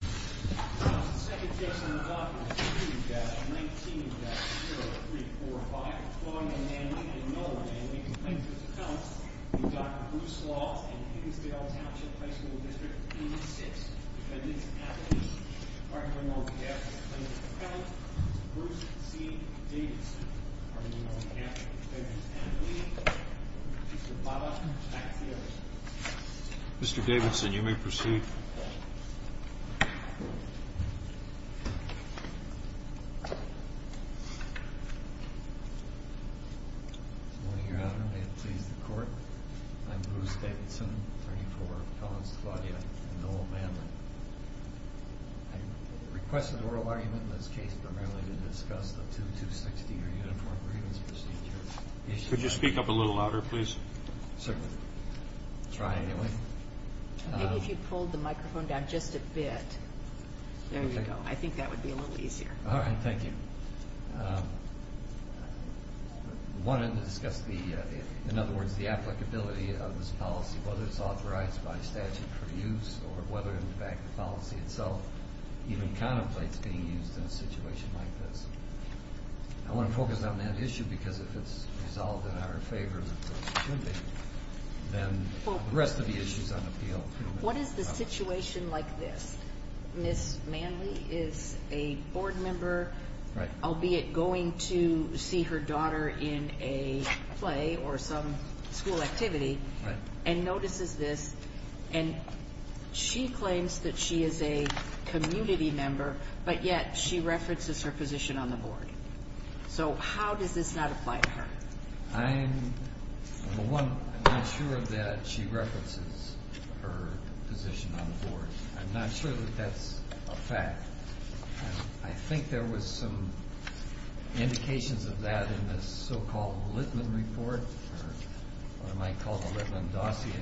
The second case on the docket is 3-19-0345, Claude v. Manley and Nolan v. Complaints of Accounts v. Dr. Bruce Laws and Higginsdale Township High School District, E6. Defendant's appellee, arguing on behalf of Complaints of Accounts, Bruce C. Davidson, arguing on behalf of Defendants' appellee, Mr. Bobbitt, back to you. Mr. Davidson, you may proceed. Good morning, Your Honor. May it please the Court? I'm Bruce Davidson, attorney for Complaints to Claudia and Nolan Manley. I requested oral argument in this case primarily to discuss the 2-260 or Uniform Grievance Procedure. Could you speak up a little louder, please? Certainly. Try anyway. Maybe if you pulled the microphone down just a bit. There you go. I think that would be a little easier. All right. Thank you. I wanted to discuss the, in other words, the applicability of this policy, whether it's authorized by statute for use or whether, in fact, the policy itself even contemplates being used in a situation like this. I want to focus on that issue because if it's resolved in our favor, then the rest of the issue is on appeal. What is the situation like this? Ms. Manley is a board member, albeit going to see her daughter in a play or some school activity, and notices this, and she claims that she is a community member, but yet she references her position on the board. So how does this not apply to her? I'm not sure that she references her position on the board. I'm not sure that that's a fact. I think there was some indications of that in the so-called Littman report, or what I might call the Littman dossier.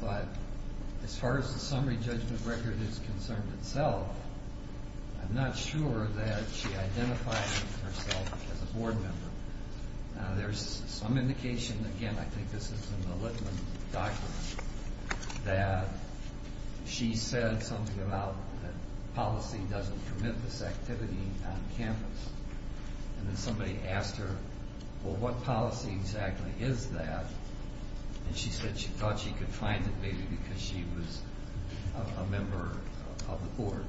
But as far as the summary judgment record is concerned itself, I'm not sure that she identifies herself as a board member. There's some indication, again, I think this is in the Littman document, that she said something about that policy doesn't permit this activity on campus. And then somebody asked her, well, what policy exactly is that? And she said she thought she could find it maybe because she was a member of the board.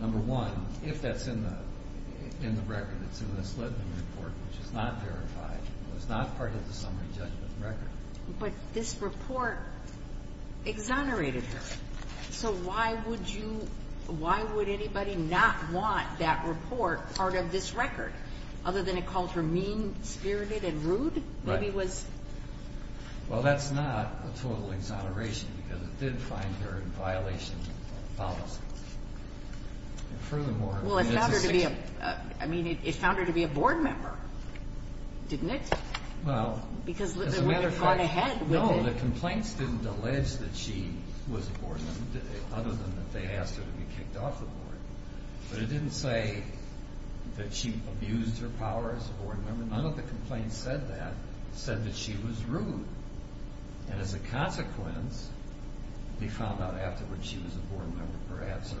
Number one, if that's in the record, it's in this Littman report, which is not verified. It was not part of the summary judgment record. But this report exonerated her. So why would anybody not want that report part of this record, other than it called her mean-spirited and rude? Well, that's not a total exoneration, because it did find her in violation of policy. And furthermore, it's a section. Well, it found her to be a board member, didn't it? Because Littman had gone ahead with it. No, the complaints didn't allege that she was a board member, other than that they asked her to be kicked off the board. But it didn't say that she abused her power as a board member. None of the complaints said that. It said that she was rude. And as a consequence, we found out afterwards she was a board member, perhaps.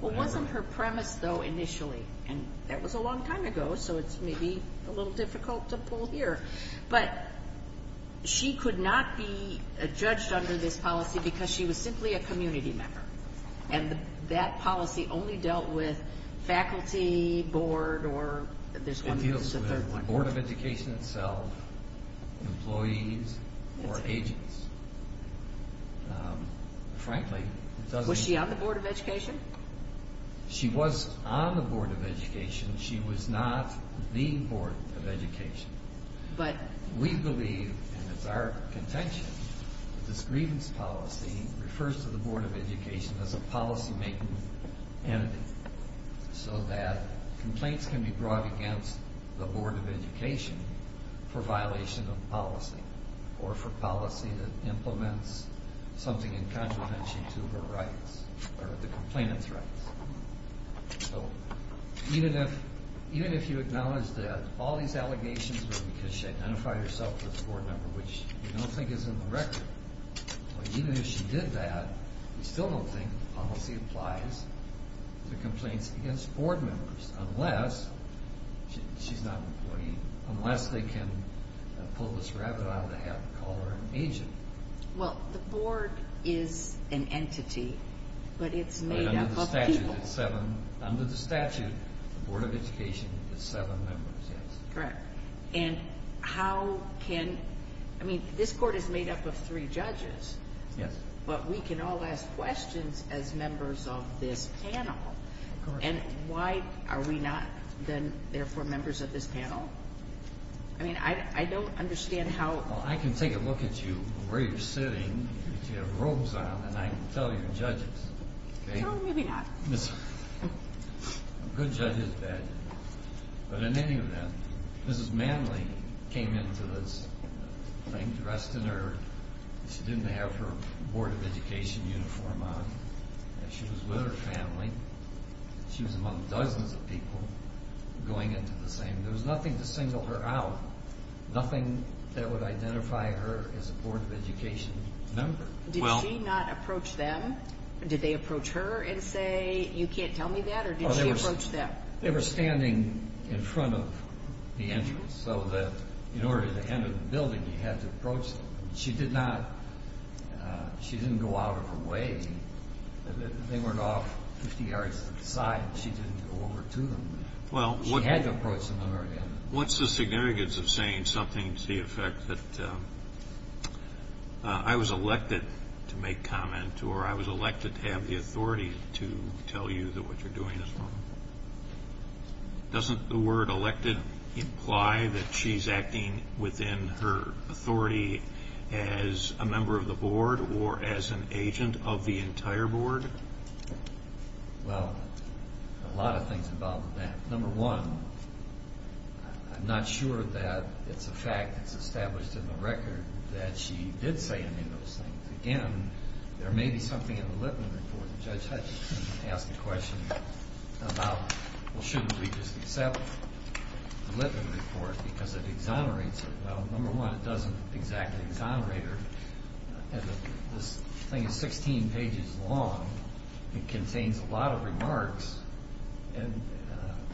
Well, it wasn't her premise, though, initially. And that was a long time ago, so it's maybe a little difficult to pull here. But she could not be judged under this policy because she was simply a community member. And that policy only dealt with faculty, board, or there's a third one. It deals with the Board of Education itself, employees, or agents. Frankly, it doesn't... She was on the Board of Education. She was not the Board of Education. But we believe, and it's our contention, that this grievance policy refers to the Board of Education as a policy-making entity, so that complaints can be brought against the Board of Education for violation of policy, or for policy that implements something in contravention to her rights, or the complainant's rights. So even if you acknowledge that all these allegations were because she identified herself as a board member, which we don't think is in the record, even if she did that, we still don't think the policy applies to complaints against board members, unless she's not an employee, unless they can pull this rabbit out of the hat and call her an agent. Well, the board is an entity, but it's made up of people. Under the statute, the Board of Education is seven members, yes. Correct. And how can... I mean, this court is made up of three judges, but we can all ask questions as members of this panel. And why are we not, then, therefore, members of this panel? I mean, I don't understand how... Well, I can take a look at you, where you're sitting, if you have robes on, and I can tell you you're judges. No, maybe not. A good judge is bad, but in any event, Mrs. Manley came into this thing, dressed in her... She was with her family. She was among dozens of people going into the same. There was nothing to single her out, nothing that would identify her as a Board of Education member. Did she not approach them? Did they approach her and say, you can't tell me that, or did she approach them? They were standing in front of the entrance, so that in order to enter the building, you had to approach them. She did not... She didn't go out of her way. They went off 50 yards to the side, and she didn't go over to them. She had to approach them in order to enter. What's the significance of saying something to the effect that I was elected to make comment, or I was elected to have the authority to tell you that what you're doing is wrong? Doesn't the word elected imply that she's acting within her authority as a member of the board or as an agent of the entire board? Well, a lot of things involve that. Number one, I'm not sure that it's a fact that's established in the record that she did say any of those things. Again, there may be something in the Lipman Report. Judge Hutchinson asked the question about, well, shouldn't we just accept the Lipman Report because it exonerates her? Well, number one, it doesn't exactly exonerate her. This thing is 16 pages long. It contains a lot of remarks, and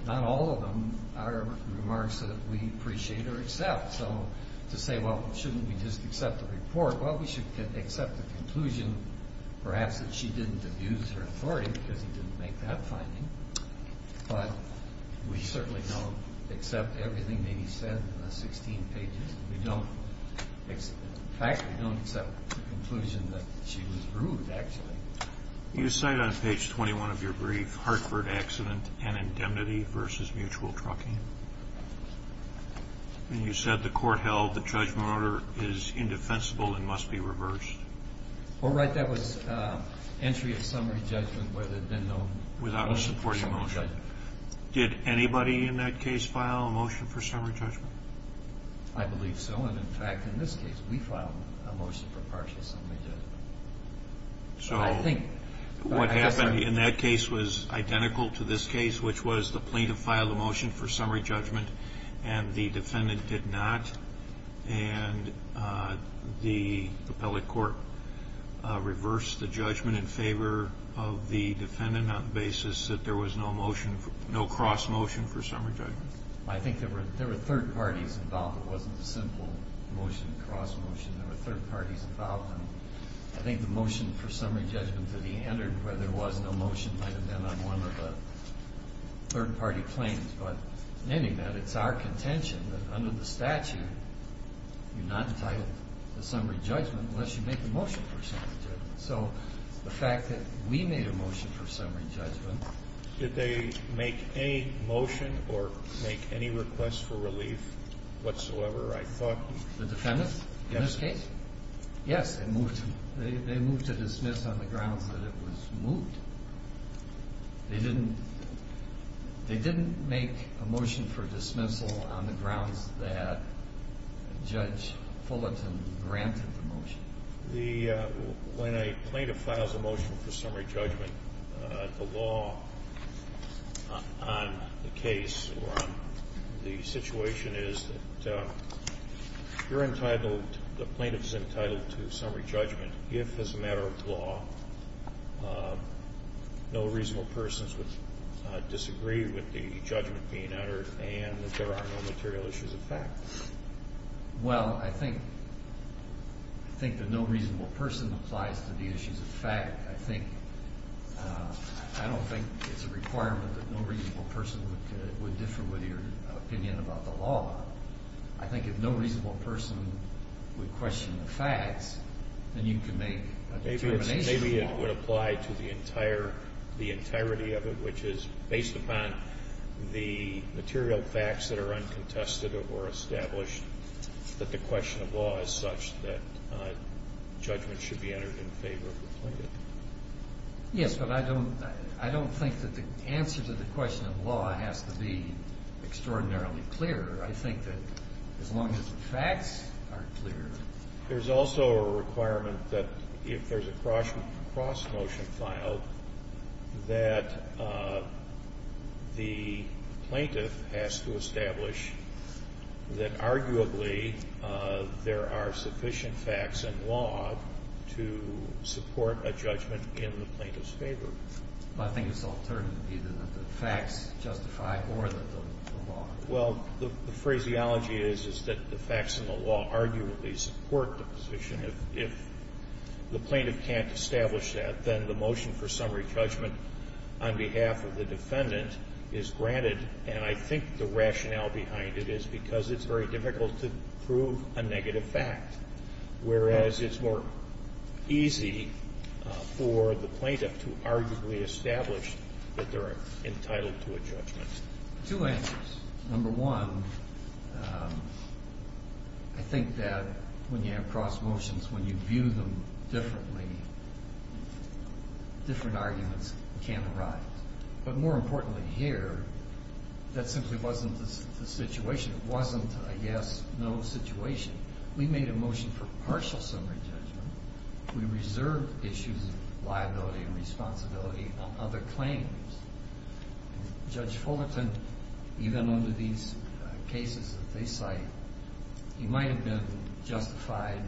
not all of them are remarks that we appreciate or accept. So to say, well, shouldn't we just accept the report? Well, we should accept the conclusion perhaps that she didn't abuse her authority because he didn't make that finding. But we certainly don't accept everything that he said in the 16 pages. In fact, we don't accept the conclusion that she was rude, actually. You cite on page 21 of your brief, Hartford accident and indemnity versus mutual trucking. And you said the court held the judgment order is indefensible and must be reversed. Oh, right. That was entry of summary judgment where there had been no motion for summary judgment. Did anybody in that case file a motion for summary judgment? I believe so, and in fact, in this case, we filed a motion for partial summary judgment. So what happened in that case was identical to this case, which was the plaintiff filed a motion for summary judgment, and the defendant did not, and the appellate court reversed the judgment in favor of the defendant on the basis that there was no motion, no cross motion for summary judgment. I think there were third parties involved. It wasn't a simple motion, cross motion. There were third parties involved, and I think the motion for summary judgment that he entered where there was no motion might have been on one of the third party claims. But in any event, it's our contention that under the statute, you're not entitled to summary judgment unless you make a motion for summary judgment. So the fact that we made a motion for summary judgment. Did they make any motion or make any request for relief whatsoever? The defendants in this case? Yes. Yes, they moved to dismiss on the grounds that it was moved. They didn't make a motion for dismissal on the grounds that Judge Fullerton granted the motion. When a plaintiff files a motion for summary judgment, the law on the case or on the situation is that you're entitled, the plaintiff's entitled to summary judgment if, as a matter of law, no reasonable persons would disagree with the judgment being entered and that there are no material issues of fact. Well, I think the no reasonable person applies to the issues of fact. I don't think it's a requirement that no reasonable person would differ with your opinion about the law. I think if no reasonable person would question the facts, then you can make a determination of the law. The question of law would apply to the entirety of it, which is based upon the material facts that are uncontested or established, that the question of law is such that judgment should be entered in favor of the plaintiff. Yes, but I don't think that the answer to the question of law has to be extraordinarily clear. I think that as long as the facts are clear. There's also a requirement that if there's a cross-motion file, that the plaintiff has to establish that arguably there are sufficient facts in law to support a judgment in the plaintiff's favor. I think it's alternative either that the facts justify more than the law. Well, the phraseology is, is that the facts in the law arguably support the position. If the plaintiff can't establish that, then the motion for summary judgment on behalf of the defendant is granted. And I think the rationale behind it is because it's very difficult to prove a negative fact, whereas it's more easy for the plaintiff to arguably establish that they're entitled to a judgment. Two answers. Number one, I think that when you have cross-motions, when you view them differently, different arguments can arise. But more importantly here, that simply wasn't the situation. It wasn't a yes-no situation. We made a motion for partial summary judgment. We reserved issues of liability and responsibility on other claims. Judge Fullerton, even under these cases that they cite, he might have been justified,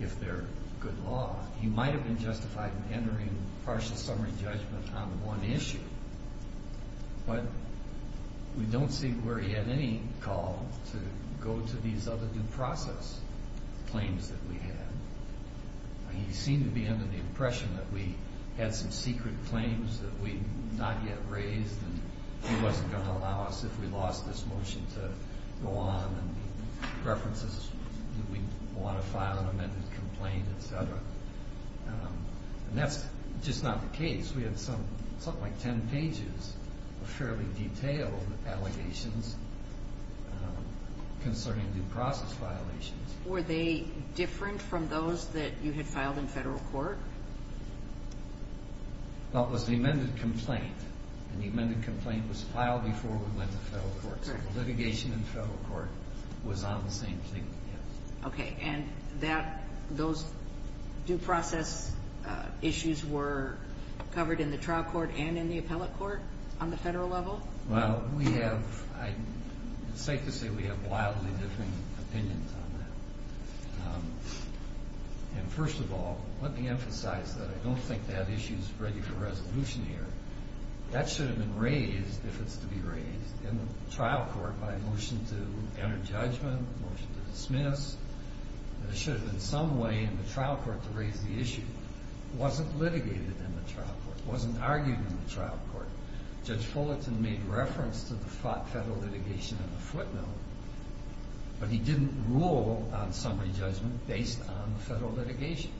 if they're good law, he might have been justified in entering partial summary judgment on one issue. But we don't see where he had any call to go to these other due process claims that we had. He seemed to be under the impression that we had some secret claims that we had not yet raised, and he wasn't going to allow us, if we lost this motion, to go on and reference us if we want to file an amended complaint, et cetera. And that's just not the case. We had something like ten pages of fairly detailed allegations concerning due process violations. Were they different from those that you had filed in federal court? Well, it was the amended complaint, and the amended complaint was filed before we went to federal court. So the litigation in federal court was on the same thing, yes. Okay. And those due process issues were covered in the trial court and in the appellate court on the federal level? Well, it's safe to say we have wildly different opinions on that. And first of all, let me emphasize that I don't think that issue is ready for resolution here. That should have been raised, if it's to be raised, in the trial court by a motion to enter judgment, a motion to dismiss. There should have been some way in the trial court to raise the issue. It wasn't litigated in the trial court. It wasn't argued in the trial court. Judge Fullerton made reference to the federal litigation in the footnote, but he didn't rule on summary judgment based on the federal litigation.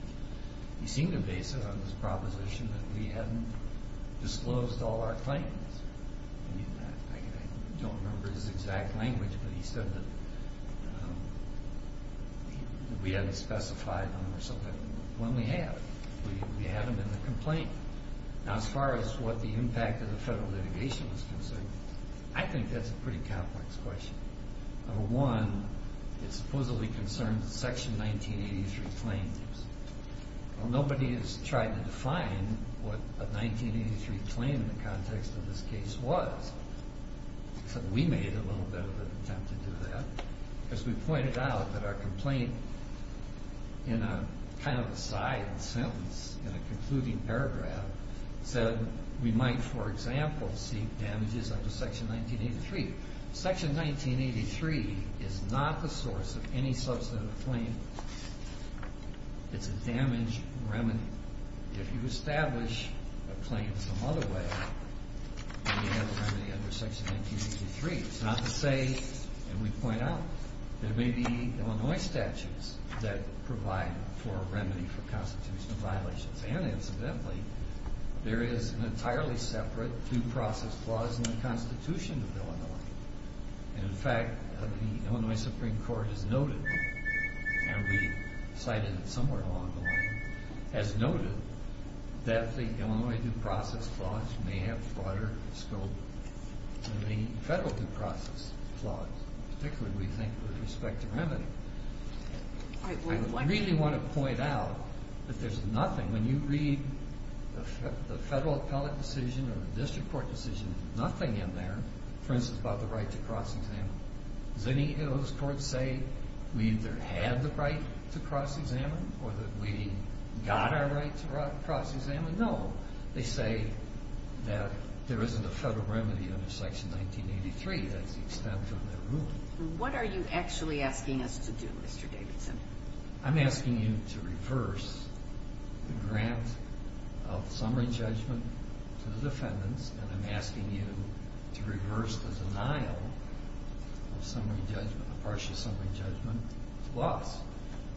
He seemed to base it on his proposition that we hadn't disclosed all our claims. I mean, I don't remember his exact language, but he said that we hadn't specified them or something. Well, we have. We have them in the complaint. Now, as far as what the impact of the federal litigation was concerned, I think that's a pretty complex question. Number one, it supposedly concerns section 1983 claims. Well, nobody has tried to define what a 1983 claim in the context of this case was, except we made a little bit of an attempt to do that, because we pointed out that our complaint, in a kind of a side sentence, in a concluding paragraph, said we might, for example, seek damages under section 1983. Section 1983 is not the source of any substantive claim. It's a damage remedy. If you establish a claim some other way, you have a remedy under section 1983. It's not to say, and we point out, there may be Illinois statutes that provide for a remedy for constitutional violations. And incidentally, there is an entirely separate due process clause in the Constitution of Illinois. And in fact, the Illinois Supreme Court has noted, and we cited it somewhere along the line, has noted that the Illinois due process clause may have broader scope than the federal due process clause, particularly, we think, with respect to remedy. I really want to point out that there's nothing, when you read the federal appellate decision or the district court decision, nothing in there, for instance, about the right to cross-examine. Does any of those courts say we either had the right to cross-examine or that we got our right to cross-examine? No. They say that there isn't a federal remedy under section 1983. That's the extent of their ruling. What are you actually asking us to do, Mr. Davidson? I'm asking you to reverse the grant of summary judgment to the defendants. And I'm asking you to reverse the denial of summary judgment, the partial summary judgment to us.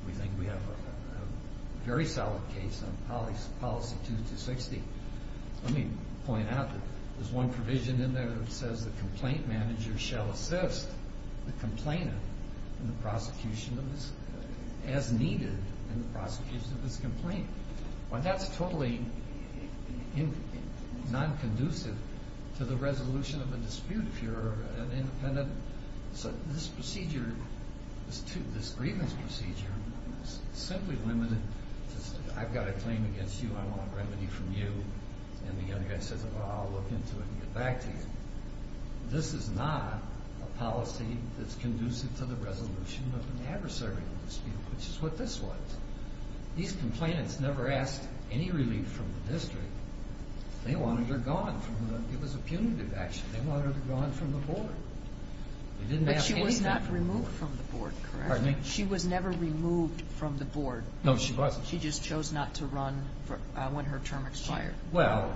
We think we have a very solid case on policy 2260. Let me point out that there's one provision in there that says the complaint manager shall assist the complainant in the prosecution of this, as needed in the prosecution of this complaint. Well, that's totally non-conducive to the resolution of a dispute if you're an independent complainant. So this procedure, this grievance procedure, is simply limited to, I've got a claim against you, I want a remedy from you, and the other guy says, well, I'll look into it and get back to you. This is not a policy that's conducive to the resolution of an adversarial dispute, which is what this was. These complainants never asked any relief from the district. They wanted her gone. It was a punitive action. They wanted her gone from the board. They didn't ask anything from the board. But she was not removed from the board, correct? Pardon me? She was never removed from the board. No, she wasn't. She just chose not to run when her term expired. Well,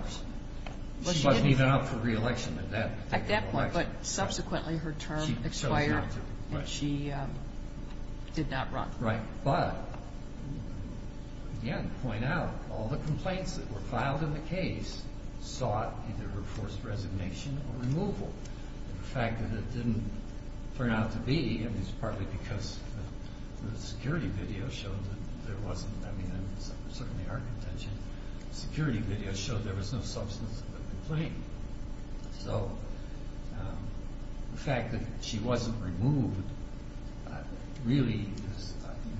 she wasn't even up for re-election at that point. At that point, but subsequently her term expired and she did not run. Right. But, again, to point out, all the complaints that were filed in the case sought either forced resignation or removal. The fact that it didn't turn out to be, I mean, it's partly because the security video showed that there wasn't, I mean, certainly our contention, the security video showed there was no substance to the complaint. So the fact that she wasn't removed really is,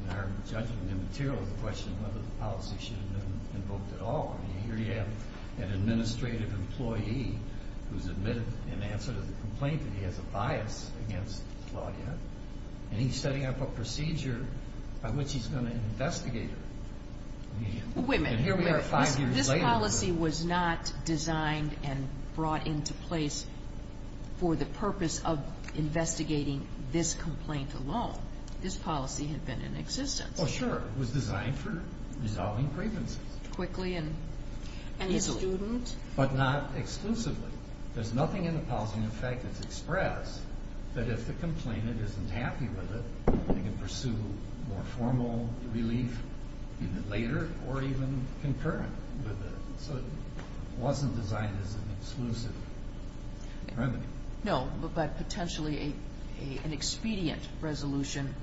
in our judgment and material, the question of whether the policy should have been invoked at all. I mean, here you have an administrative employee who's admitted in answer to the complaint that he has a bias against Claudia, and he's setting up a procedure by which he's going to investigate her. Wait a minute. And here we are five years later. This policy was not designed and brought into place for the purpose of investigating this complaint alone. This policy had been in existence. Oh, sure. It was designed for resolving grievances. Quickly and easily. And the student. But not exclusively. There's nothing in the policy, in fact, that's expressed that if the complainant isn't happy with it, they can pursue more formal relief even later or even concurrent with it. So it wasn't designed as an exclusive remedy. No, but potentially an expedient resolution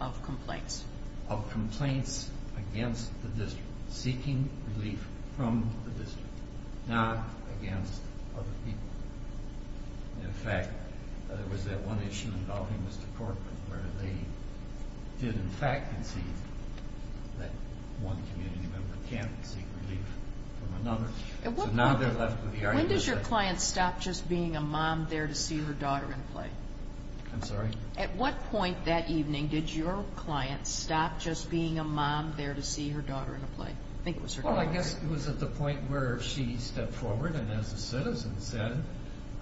of complaints. Of complaints against the district. Seeking relief from the district. Not against other people. In fact, there was that one issue involving this department where they did in fact concede that one community member can't seek relief from another. So now they're left with the argument that... When does your client stop just being a mom there to see her daughter in play? I'm sorry? At what point that evening did your client stop just being a mom there to see her daughter in a play? I think it was her daughter, right? Well, I guess it was at the point where she stepped forward and as a citizen said,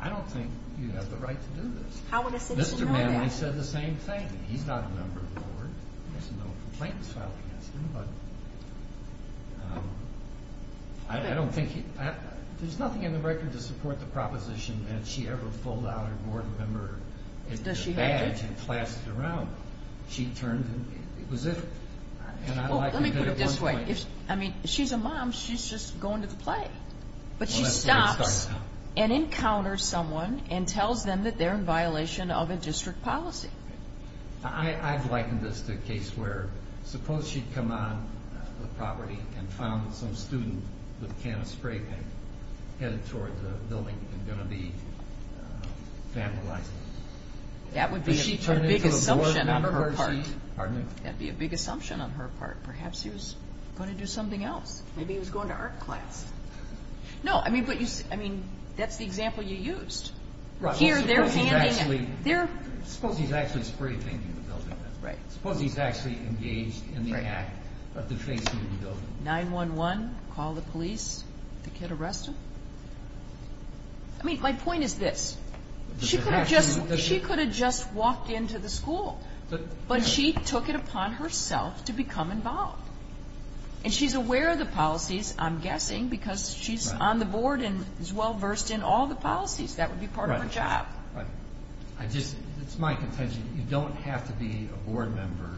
I don't think you have the right to do this. How would a citizen know that? Mr. Manley said the same thing. He's not a member of the board. There's no complaints filed against him, but I don't think he... There's nothing in the record to support the proposition that she ever pulled out her board member. Does she have it? Her badge and clasped it around. She turned and it was it. Let me put it this way. If she's a mom, she's just going to the play. But she stops and encounters someone and tells them that they're in violation of a district policy. I've likened this to a case where suppose she'd come on the property and found some student with a can of spray paint headed towards a building and going to be vandalized. That would be a big assumption on her part. Pardon me? That would be a big assumption on her part. Perhaps he was going to do something else. Maybe he was going to art class. No, I mean, that's the example you used. Here they're handing... Suppose he's actually spray painting the building. Suppose he's actually engaged in the act of defacing the building. 911, call the police. The kid arrested. I mean, my point is this. She could have just walked into the school. But she took it upon herself to become involved. And she's aware of the policies, I'm guessing, because she's on the board and is well versed in all the policies. That would be part of her job. It's my contention. You don't have to be a board member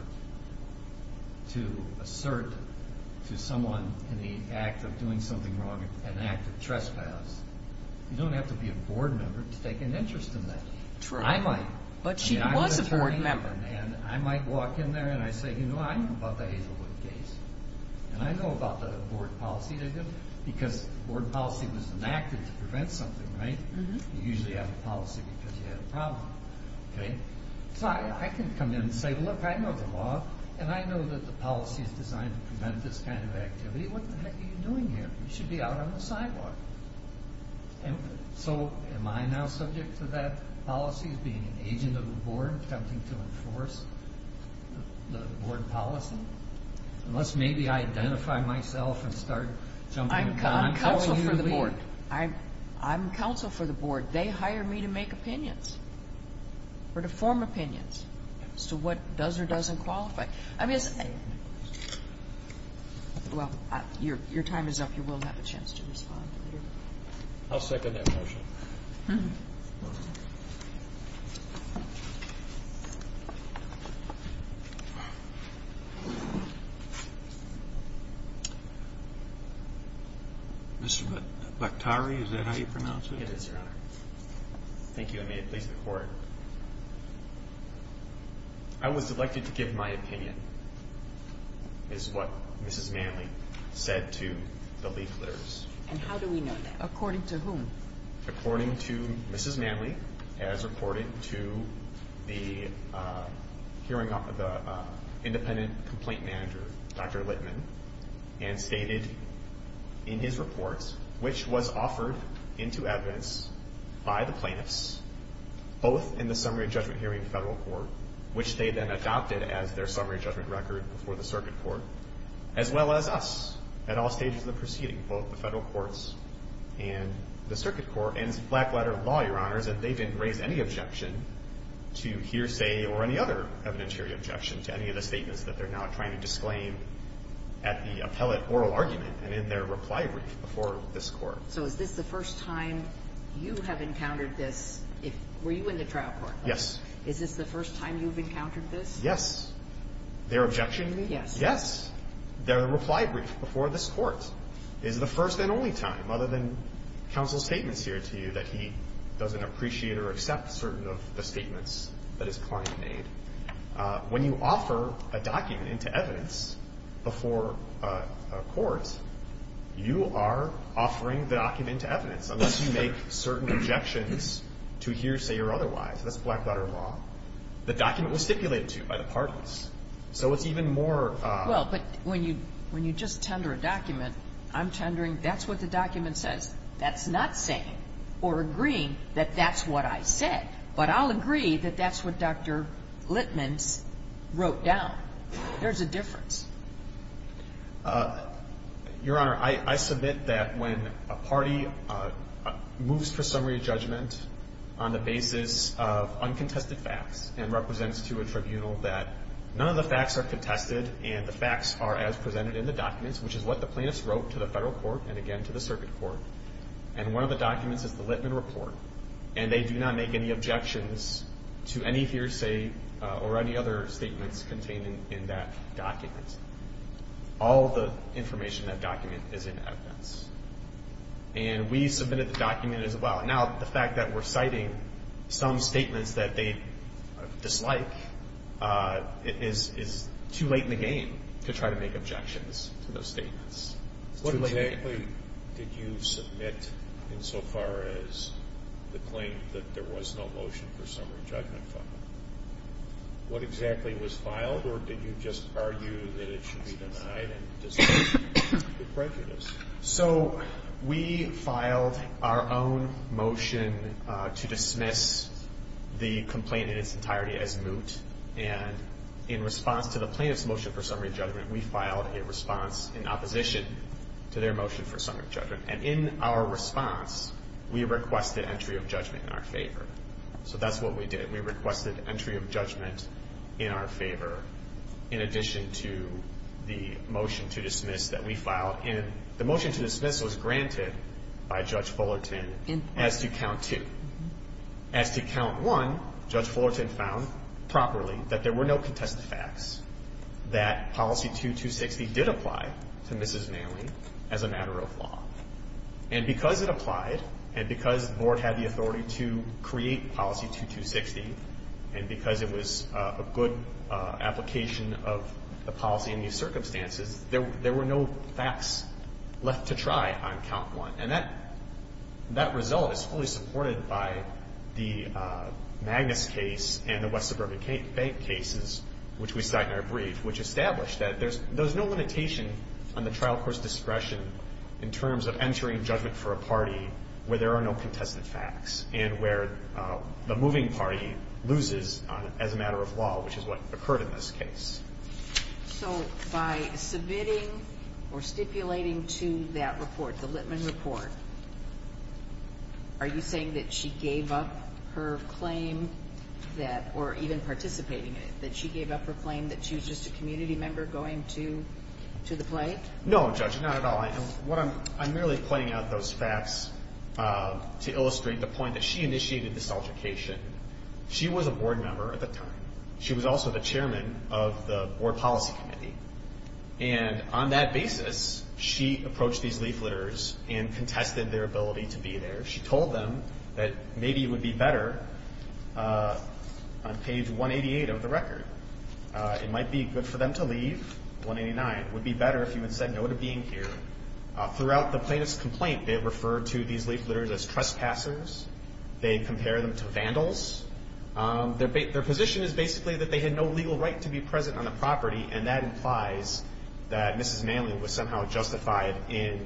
to assert to someone in the act of doing something wrong an act of trespass. You don't have to be a board member to take an interest in that. I might. But she was a board member. I might walk in there and I say, you know, I know about the Hazelwood case. And I know about the board policy. Because board policy was enacted to prevent something, right? You usually have a policy because you have a problem. Okay? So I can come in and say, look, I know the law. And I know that the policy is designed to prevent this kind of activity. What the heck are you doing here? You should be out on the sidewalk. So am I now subject to that policy of being an agent of the board, attempting to enforce the board policy? Unless maybe I identify myself and start jumping in. I'm counsel for the board. I'm counsel for the board. They hire me to make opinions or to form opinions as to what does or doesn't qualify. I mean, it's the same. Well, your time is up. You will have a chance to respond. I'll second that motion. Mr. Lactari, is that how you pronounce it? It is, Your Honor. Thank you. And may it please the Court. I was elected to give my opinion, is what Mrs. Manley said to the leafletters. And how do we know that? According to whom? According to the leafletters. According to Mrs. Manley, as reported to the independent complaint manager, Dr. Litman, and stated in his report, which was offered into evidence by the plaintiffs, both in the summary judgment hearing in federal court, which they then adopted as their summary judgment record before the circuit court, as well as us at all stages of the proceeding, both the federal courts and the circuit court. And it's a black letter of law, Your Honors, that they didn't raise any objection to hearsay or any other evidentiary objection to any of the statements that they're now trying to disclaim at the appellate oral argument and in their reply brief before this Court. So is this the first time you have encountered this? Were you in the trial court? Yes. Is this the first time you've encountered this? Yes. Their objection? Yes. Yes. Their reply brief before this Court is the first and only time, other than counsel's statements here to you, that he doesn't appreciate or accept certain of the statements that his client made. When you offer a document into evidence before a court, you are offering the document to evidence, unless you make certain objections to hearsay or otherwise. That's black letter of law. The document was stipulated to you by the parties. So it's even more. Well, but when you just tender a document, I'm tendering. That's what the document says. That's not saying or agreeing that that's what I said. But I'll agree that that's what Dr. Litman wrote down. There's a difference. Your Honor, I submit that when a party moves to a summary of judgment on the basis of uncontested facts and represents to a tribunal that none of the facts are contested and the facts are as presented in the documents, which is what the plaintiffs wrote to the federal court and, again, to the circuit court, and one of the documents is the Litman report, and they do not make any objections to any hearsay or any other statements contained in that document. All of the information in that document is in evidence. And we submitted the document as well. Now, the fact that we're citing some statements that they dislike is too late in the game to try to make objections to those statements. It's too late in the game. What exactly did you submit insofar as the claim that there was no motion for summary judgment filed? What exactly was filed, or did you just argue that it should be denied and dismissed as prejudice? So we filed our own motion to dismiss the complaint in its entirety as moot, and in response to the plaintiff's motion for summary judgment, we filed a response in opposition to their motion for summary judgment. And in our response, we requested entry of judgment in our favor. So that's what we did. We requested entry of judgment in our favor in addition to the motion to dismiss that we filed. And the motion to dismiss was granted by Judge Fullerton as to Count 2. As to Count 1, Judge Fullerton found properly that there were no contested facts that Policy 2260 did apply to Mrs. Manley as a matter of law. And because it applied, and because the Board had the authority to create Policy 2260, and because it was a good application of the policy in these circumstances, there were no facts left to try on Count 1. And that result is fully supported by the Magnus case and the West Suburban Bank cases, which we cite in our brief, which established that there's no limitation on the trial court's discretion in terms of entering judgment for a party where there are no contested facts and where the moving party loses as a matter of law, which is what occurred in this case. So by submitting or stipulating to that report, the Litman report, are you saying that she gave up her claim that or even participating in it, that she gave up her claim that she was just a community member going to the plate? No, Judge, not at all. I'm merely pointing out those facts to illustrate the point that she initiated this altercation. She was a Board member at the time. She was also the Chairman of the Board Policy Committee. And on that basis, she approached these leafleters and contested their ability to be there. She told them that maybe it would be better on page 188 of the record. It might be good for them to leave, 189. It would be better if you had said no to being here. Throughout the plaintiff's complaint, they referred to these leafleters as trespassers. They compared them to vandals. Their position is basically that they had no legal right to be present on the property, and that implies that Mrs. Manley was somehow justified in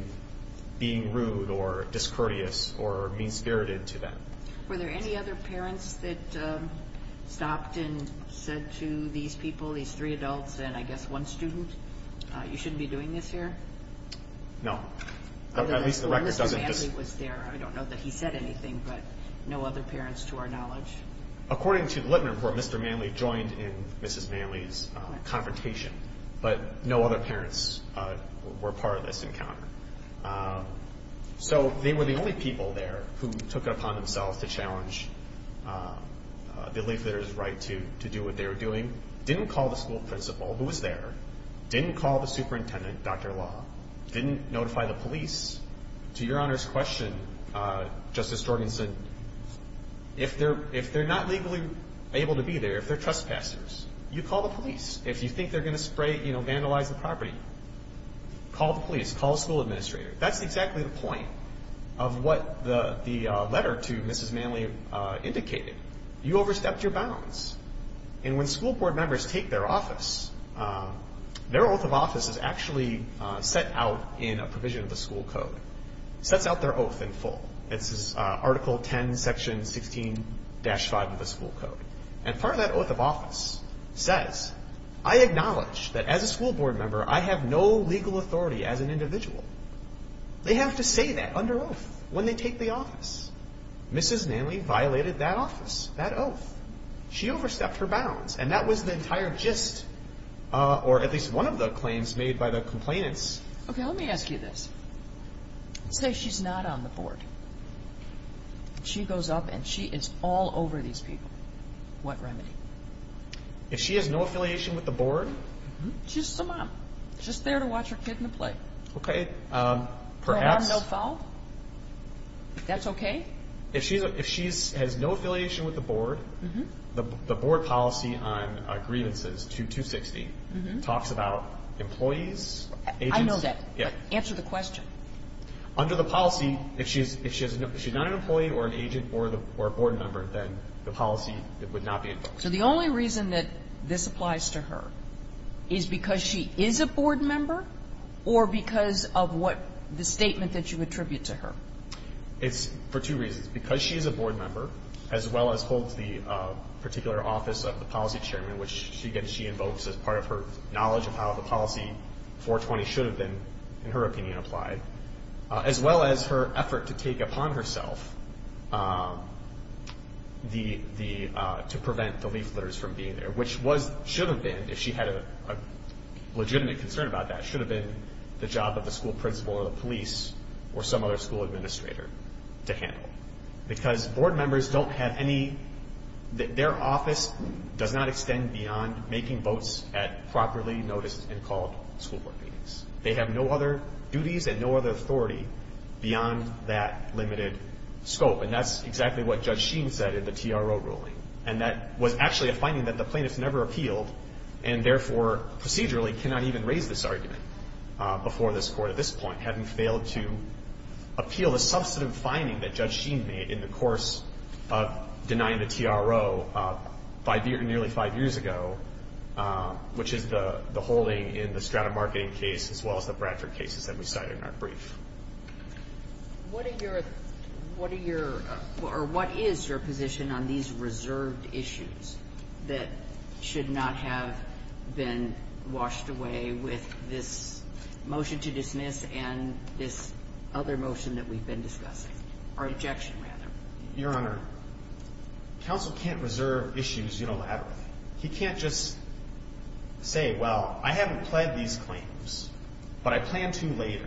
being rude or discourteous or mean-spirited to them. Were there any other parents that stopped and said to these people, these three adults and, I guess, one student, you shouldn't be doing this here? No. At least the record doesn't just— Or Mr. Manley was there. I don't know that he said anything, but no other parents to our knowledge. According to the Litman report, Mr. Manley joined in Mrs. Manley's confrontation, but no other parents were part of this encounter. So they were the only people there who took it upon themselves to challenge the leafleters' right to do what they were doing, didn't call the school principal who was there, didn't call the superintendent, Dr. Law, didn't notify the police. To Your Honor's question, Justice Jorgensen, if they're not legally able to be there, if they're trespassers, you call the police. If you think they're going to vandalize the property, call the police. Call the school administrator. That's exactly the point of what the letter to Mrs. Manley indicated. You overstepped your bounds. And when school board members take their office, their oath of office is actually set out in a provision of the school code. It sets out their oath in full. It's Article 10, Section 16-5 of the school code. And part of that oath of office says, I acknowledge that as a school board member I have no legal authority as an individual. They have to say that under oath when they take the office. Mrs. Manley violated that office, that oath. She overstepped her bounds, and that was the entire gist, or at least one of the claims made by the complainants. Okay, let me ask you this. Say she's not on the board. She goes up and she is all over these people. What remedy? If she has no affiliation with the board? She's a mom. She's there to watch her kid in the play. Okay, perhaps. No harm, no foul? That's okay? If she has no affiliation with the board, the board policy on grievances, 260, talks about employees, agents. I know that. Yeah. Answer the question. Under the policy, if she's not an employee or an agent or a board member, then the policy would not be enforced. So the only reason that this applies to her is because she is a board member or because of what the statement that you attribute to her? It's for two reasons. Because she is a board member, as well as holds the particular office of the policy chairman, which she invokes as part of her knowledge of how the policy 420 should have been, in her opinion, applied, as well as her effort to take upon herself to prevent the leafleters from being there, which should have been, if she had a legitimate concern about that, should have been the job of the school principal or the police or some other school administrator to handle. Because board members don't have any – their office does not extend beyond making votes at properly noticed and called school board meetings. They have no other duties and no other authority beyond that limited scope. And that's exactly what Judge Sheen said in the TRO ruling. And that was actually a finding that the plaintiffs never appealed and therefore procedurally cannot even raise this argument before this Court at this point, having failed to appeal the substantive finding that Judge Sheen made in the course of denying the TRO five – nearly five years ago, which is the holding in the Strata marketing case as well as the Bradford cases that we cite in our brief. What are your – what are your – Your Honor, counsel can't reserve issues unilaterally. He can't just say, well, I haven't pled these claims, but I plan to later.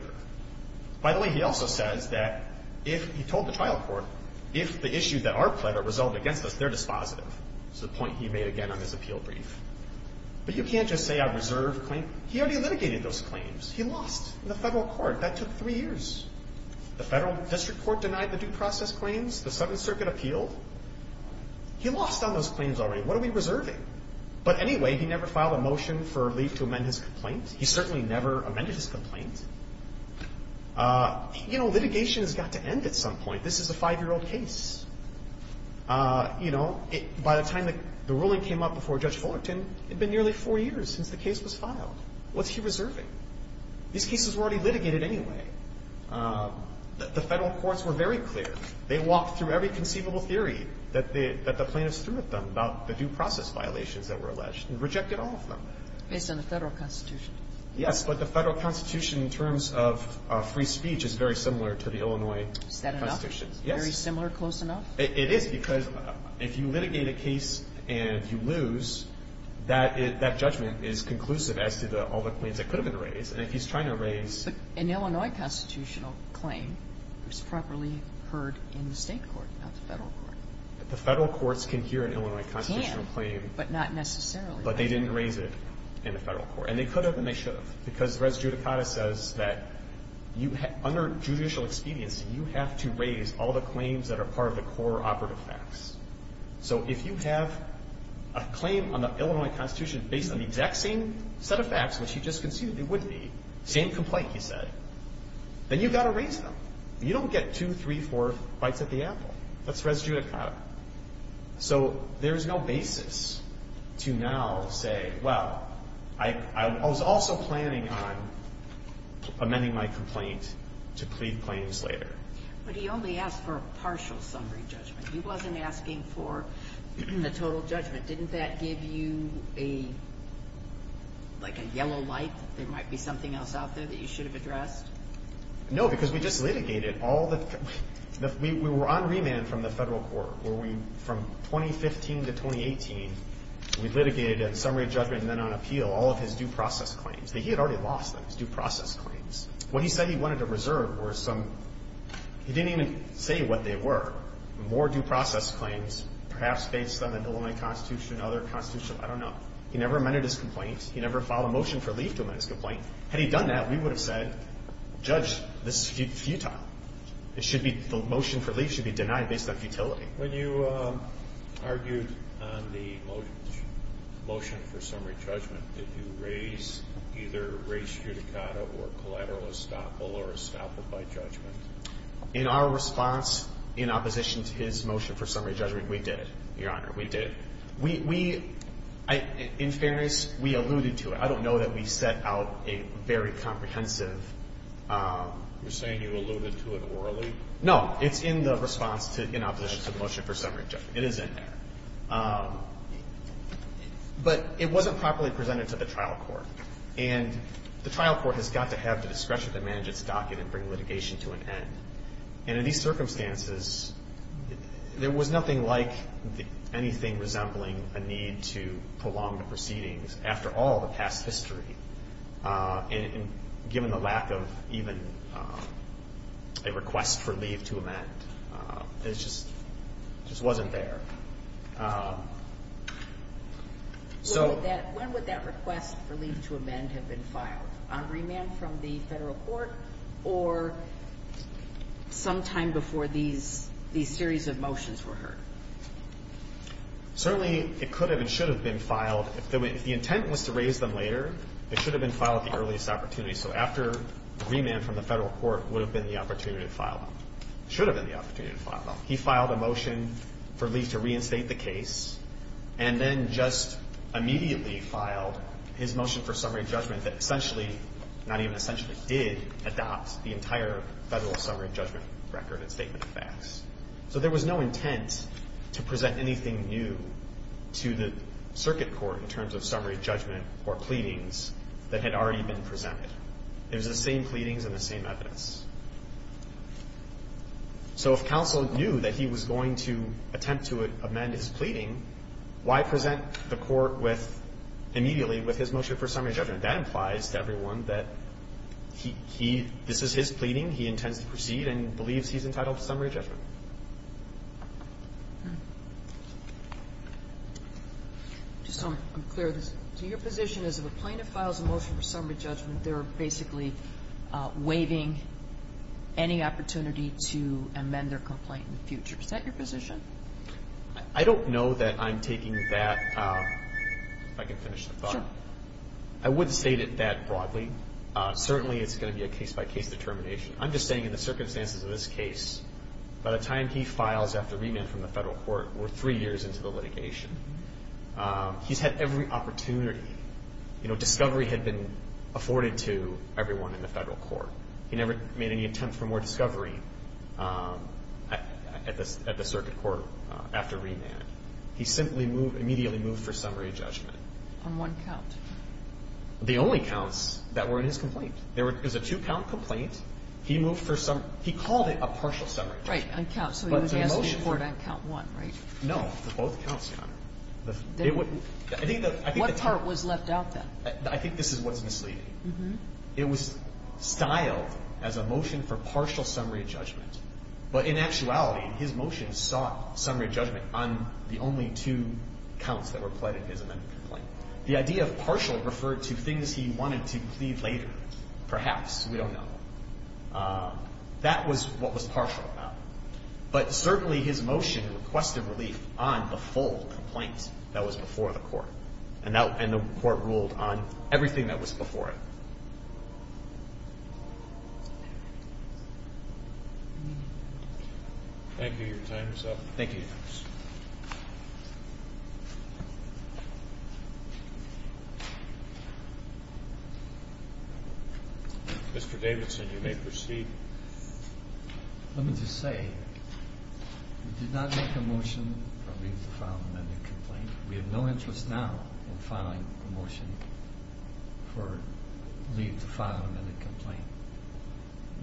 By the way, he also says that if – he told the trial court, if the issues that are pled are resolved against us, they're dispositive. But you can't just say I reserve claims. He already litigated those claims. He lost in the federal court. That took three years. The federal district court denied the due process claims. The Seventh Circuit appealed. He lost on those claims already. What are we reserving? But anyway, he never filed a motion for relief to amend his complaint. He certainly never amended his complaint. You know, litigation has got to end at some point. This is a five-year-old case. You know, by the time the ruling came up before Judge Fullerton, it had been nearly four years since the case was filed. What's he reserving? These cases were already litigated anyway. The federal courts were very clear. They walked through every conceivable theory that the plaintiffs threw at them about the due process violations that were alleged and rejected all of them. Based on the federal constitution. Yes, but the federal constitution in terms of free speech is very similar to the Illinois constitution. Is that enough? Very similar, close enough? It is because if you litigate a case and you lose, that judgment is conclusive as to all the claims that could have been raised. And if he's trying to raise... But an Illinois constitutional claim was properly heard in the state court, not the federal court. The federal courts can hear an Illinois constitutional claim. Can, but not necessarily. But they didn't raise it in the federal court. And they could have and they should have because Res Judicata says that under judicial expediency, you have to raise all the claims that are part of the core operative facts. So if you have a claim on the Illinois constitution based on the exact same set of facts which you just conceded they would be, same complaint you said, then you've got to raise them. You don't get two, three, four bites at the apple. That's Res Judicata. So there is no basis to now say, well, I was also planning on amending my complaint to plead claims later. But he only asked for a partial summary judgment. He wasn't asking for the total judgment. Didn't that give you a, like a yellow light that there might be something else out there that you should have addressed? No, because we just litigated all the... We were on remand from the federal court where we, from 2015 to 2018, we litigated at summary judgment and then on appeal all of his due process claims. He had already lost them, his due process claims. What he said he wanted to reserve were some... He didn't even say what they were. More due process claims, perhaps based on the Illinois constitution, other constitution, I don't know. He never amended his complaint. He never filed a motion for leave to amend his complaint. Had he done that, we would have said, judge, this is futile. It should be... The motion for leave should be denied based on futility. When you argued on the motion for summary judgment, did you raise either race judicata or collateral estoppel or estoppel by judgment? In our response, in opposition to his motion for summary judgment, we did, Your Honor. We did. We... In fairness, we alluded to it. I don't know that we set out a very comprehensive... You're saying you alluded to it orally? No. It's in the response to, in opposition to the motion for summary judgment. It is in there. But it wasn't properly presented to the trial court. And the trial court has got to have the discretion to manage its docket and bring litigation to an end. And in these circumstances, there was nothing like anything resembling a need to prolong the proceedings, after all the past history, given the lack of even a request for leave to amend. It just wasn't there. So... When would that request for leave to amend have been filed? On remand from the federal court or sometime before these series of motions were heard? Certainly, it could have and should have been filed. If the intent was to raise them later, it should have been filed at the earliest opportunity. So after remand from the federal court would have been the opportunity to file them. It should have been the opportunity to file them. He filed a motion for leave to reinstate the case and then just immediately filed his motion for summary judgment that essentially, not even essentially, did adopt the entire federal summary judgment record and statement of facts. So there was no intent to present anything new to the circuit court in terms of summary judgment or pleadings that had already been presented. It was the same pleadings and the same evidence. So if counsel knew that he was going to attempt to amend his pleading, why present the court with, immediately, with his motion for summary judgment? That implies to everyone that this is his pleading. He intends to proceed and believes he's entitled to summary judgment. I just want to clear this. So your position is if a plaintiff files a motion for summary judgment, they're basically waiving any opportunity to amend their complaint in the future. Is that your position? I don't know that I'm taking that. If I can finish the thought. Sure. I would state it that broadly. Certainly, it's going to be a case-by-case determination. I'm just saying in the circumstances of this case, by the time he files after remand from the federal court, we're three years into the litigation. He's had every opportunity. You know, discovery had been afforded to everyone in the federal court. He never made any attempt for more discovery at the circuit court after remand. He simply moved, immediately moved for summary judgment. On one count? The only counts that were in his complaint. There was a two-count complaint. He moved for summary. He called it a partial summary judgment. Right, on count. So he was asking for it on count one, right? No. Both counts, Connor. What part was left out, then? I think this is what's misleading. It was styled as a motion for partial summary judgment. But in actuality, his motion sought summary judgment on the only two counts that were pled in his amendment complaint. The idea of partial referred to things he wanted to plead later. Perhaps. We don't know. That was what was partial about it. But certainly his motion requested relief on the full complaint that was before the court. And the court ruled on everything that was before it. Thank you. Your time is up. Thank you, Your Honor. Mr. Davidson, you may proceed. Let me just say, we did not make a motion to file an amendment complaint. We have no interest now in filing a motion for leave to file an amendment complaint.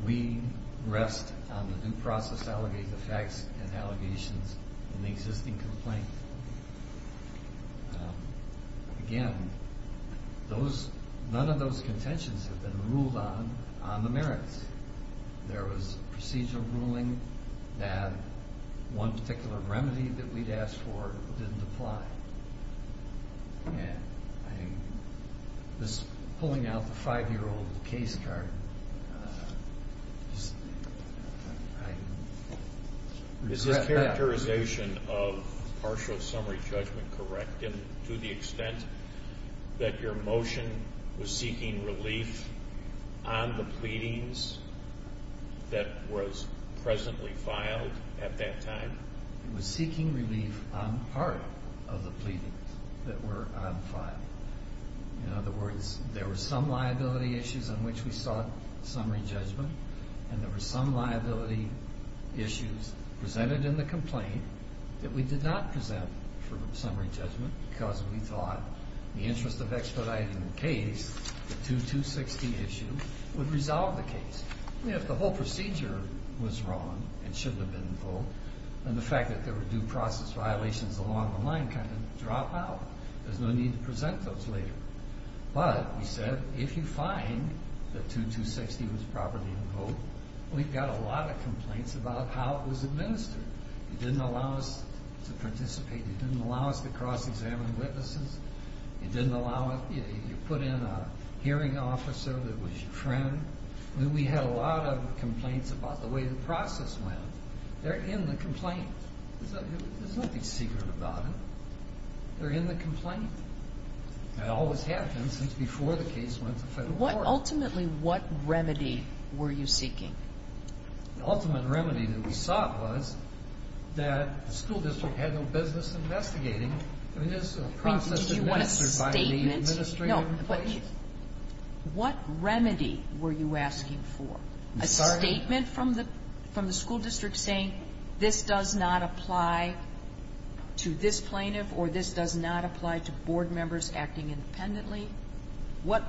We rest on the due process to allegate the facts and allegations in the existing complaint. Again, none of those contentions have been ruled on on the merits. There was a procedural ruling that one particular remedy that we'd asked for didn't apply. And I was pulling out the five-year-old case card. I regret that. Is his characterization of partial summary judgment correct to the extent that your motion was seeking relief on the pleadings that were presently filed at that time? It was seeking relief on part of the pleadings that were unfiled. In other words, there were some liability issues on which we sought summary judgment, and there were some liability issues presented in the complaint that we did not present for summary judgment because we thought the interest of expediting the case, the 2260 issue, would resolve the case. If the whole procedure was wrong and shouldn't have been invoked, then the fact that there were due process violations along the line kind of dropped out. There's no need to present those later. But, we said, if you find that 2260 was properly invoked, we've got a lot of complaints about how it was administered. It didn't allow us to participate. It didn't allow us to cross-examine witnesses. It didn't allow us to put in a hearing officer that was your friend. We had a lot of complaints about the way the process went. They're in the complaint. There's nothing secret about it. They're in the complaint. That always happens since before the case went to federal court. Ultimately, what remedy were you seeking? The ultimate remedy that we sought was that the school district had no business investigating. I mean, there's a process administered by the administrative employees. What remedy were you asking for? A statement from the school district saying this does not apply to this plaintiff or this does not apply to board members acting independently? What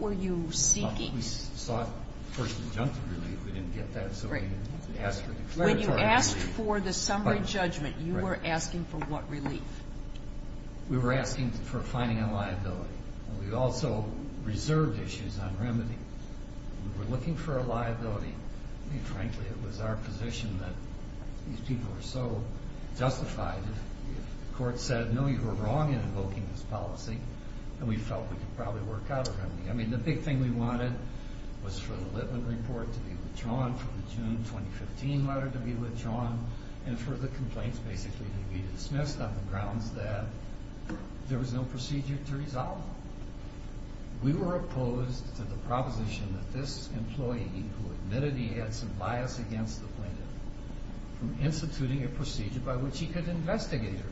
were you seeking? We sought first injunctive relief. We didn't get that, so we asked for declaratory relief. When you asked for the summary judgment, you were asking for what relief? We were asking for finding a liability. We also reserved issues on remedy. We were looking for a liability. I mean, frankly, it was our position that these people are so justified. If the court said, no, you were wrong in invoking this policy, then we felt we could probably work out a remedy. I mean, the big thing we wanted was for the Litman report to be withdrawn, for the June 2015 letter to be withdrawn, and for the complaints basically to be dismissed on the grounds that there was no procedure to resolve them. We were opposed to the proposition that this employee, who admitted he had some bias against the plaintiff, from instituting a procedure by which he could investigate her.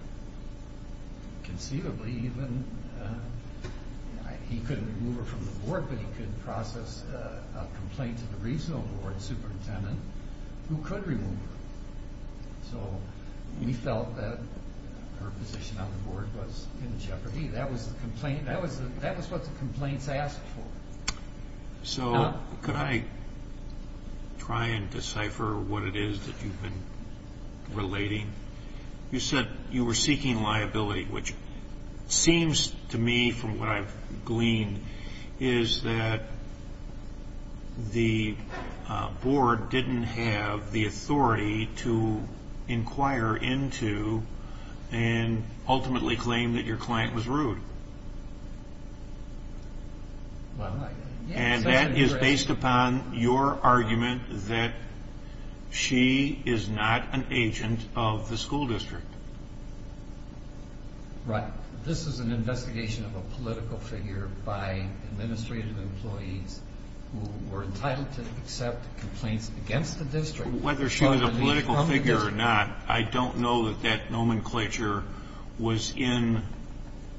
Conceivably, even, he couldn't remove her from the board, but he could process a complaint to the regional board superintendent who could remove her. So we felt that her position on the board was in jeopardy. That was the complaint. That was what the complaints asked for. So could I try and decipher what it is that you've been relating? You said you were seeking liability, which seems to me, from what I've gleaned, is that the board didn't have the authority to inquire into and ultimately claim that your client was rude. And that is based upon your argument that she is not an agent of the school district. Right. This is an investigation of a political figure by administrative employees Whether she was a political figure or not, I don't know that that nomenclature was in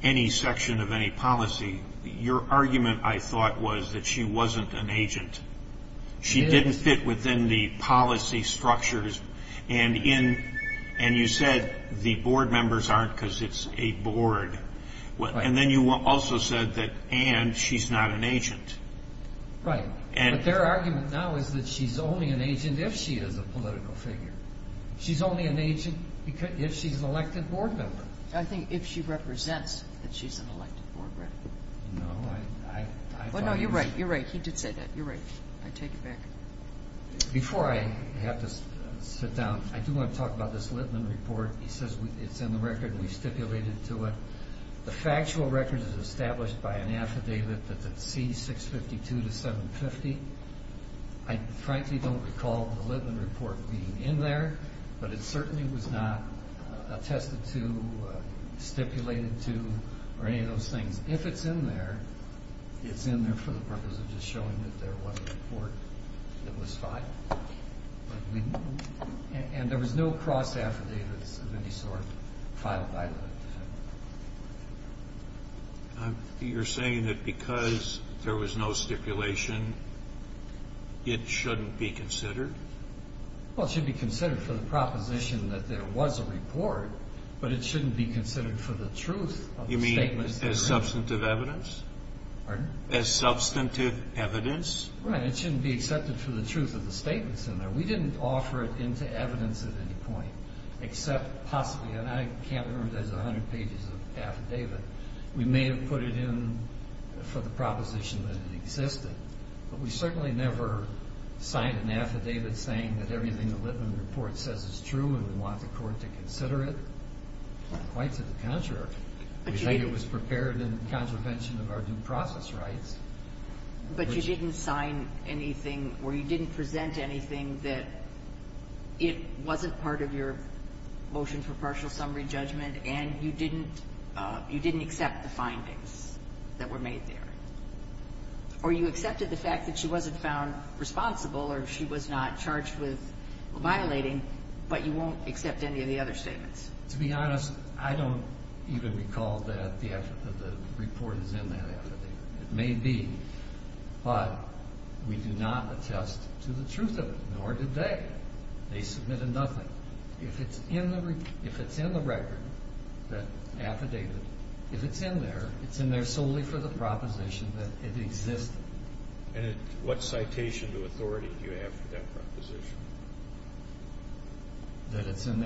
any section of any policy. Your argument, I thought, was that she wasn't an agent. She didn't fit within the policy structures. And you said the board members aren't because it's a board. And then you also said that Anne, she's not an agent. Right. But their argument now is that she's only an agent if she is a political figure. She's only an agent if she's an elected board member. I think if she represents that she's an elected board member. No, I thought it was... Well, no, you're right. You're right. He did say that. You're right. I take it back. Before I have to sit down, I do want to talk about this Littman report. He says it's in the record and we stipulated to it. The factual record is established by an affidavit that's at C652 to 750. I frankly don't recall the Littman report being in there, but it certainly was not attested to, stipulated to, or any of those things. If it's in there, it's in there for the purpose of just showing that there was a report that was filed. And there was no cross affidavits of any sort filed by Littman. You're saying that because there was no stipulation, it shouldn't be considered? Well, it should be considered for the proposition that there was a report, but it shouldn't be considered for the truth of the statement. You mean as substantive evidence? Pardon? As substantive evidence? Right. It shouldn't be accepted for the truth of the statements in there. We didn't offer it into evidence at any point, except possibly. And I can't remember if there's a hundred pages of affidavit. We may have put it in for the proposition that it existed, but we certainly never signed an affidavit saying that everything the Littman report says is true and we want the court to consider it. Quite to the contrary. We say it was prepared in contravention of our due process rights. But you didn't sign anything or you didn't present anything that it wasn't part of your motion for partial summary judgment and you didn't accept the findings that were made there? Or you accepted the fact that she wasn't found responsible or she was not charged with violating, but you won't accept any of the other statements? To be honest, I don't even recall that the report is in that affidavit. It may be, but we do not attest to the truth of it, nor did they. They submitted nothing. If it's in the record, that affidavit, if it's in there, it's in there solely for the proposition that it existed. And what citation of authority do you have for that proposition?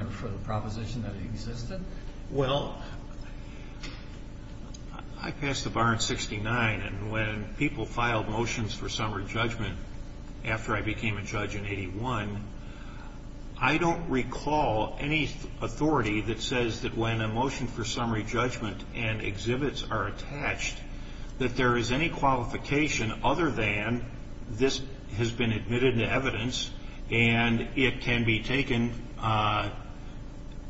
Well, I passed the bar in 69, and when people filed motions for summary judgment after I became a judge in 81, I don't recall any authority that says that when a motion for summary judgment and exhibits are attached that there is any qualification other than this has been admitted to evidence and it can be taken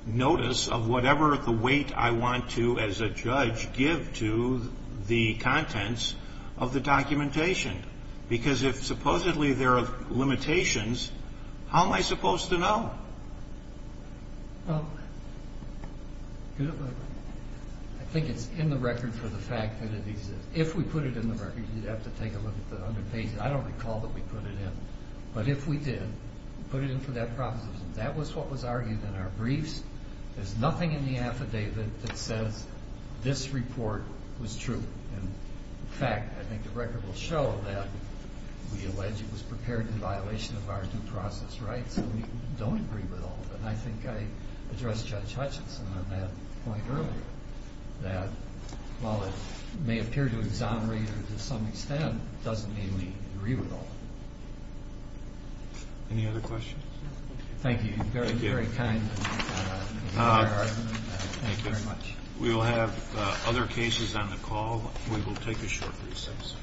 notice of whatever the weight I want to, as a judge, give to the contents of the documentation. Because if supposedly there are limitations, how am I supposed to know? Well, I think it's in the record for the fact that it exists. If we put it in the record, you'd have to take a look at the underpages. I don't recall that we put it in. But if we did, put it in for that proposition. That was what was argued in our briefs. There's nothing in the affidavit that says this report was true. In fact, I think the record will show that we allege it was prepared in violation of our due process rights, and we don't agree with all of it. And I think I addressed Judge Hutchinson on that point earlier, that while it may appear to exonerate or to some extent doesn't mean we agree with all of it. Any other questions? Thank you. You've been very kind in your argument. Thank you very much. We will have other cases on the call. We will take a short recess.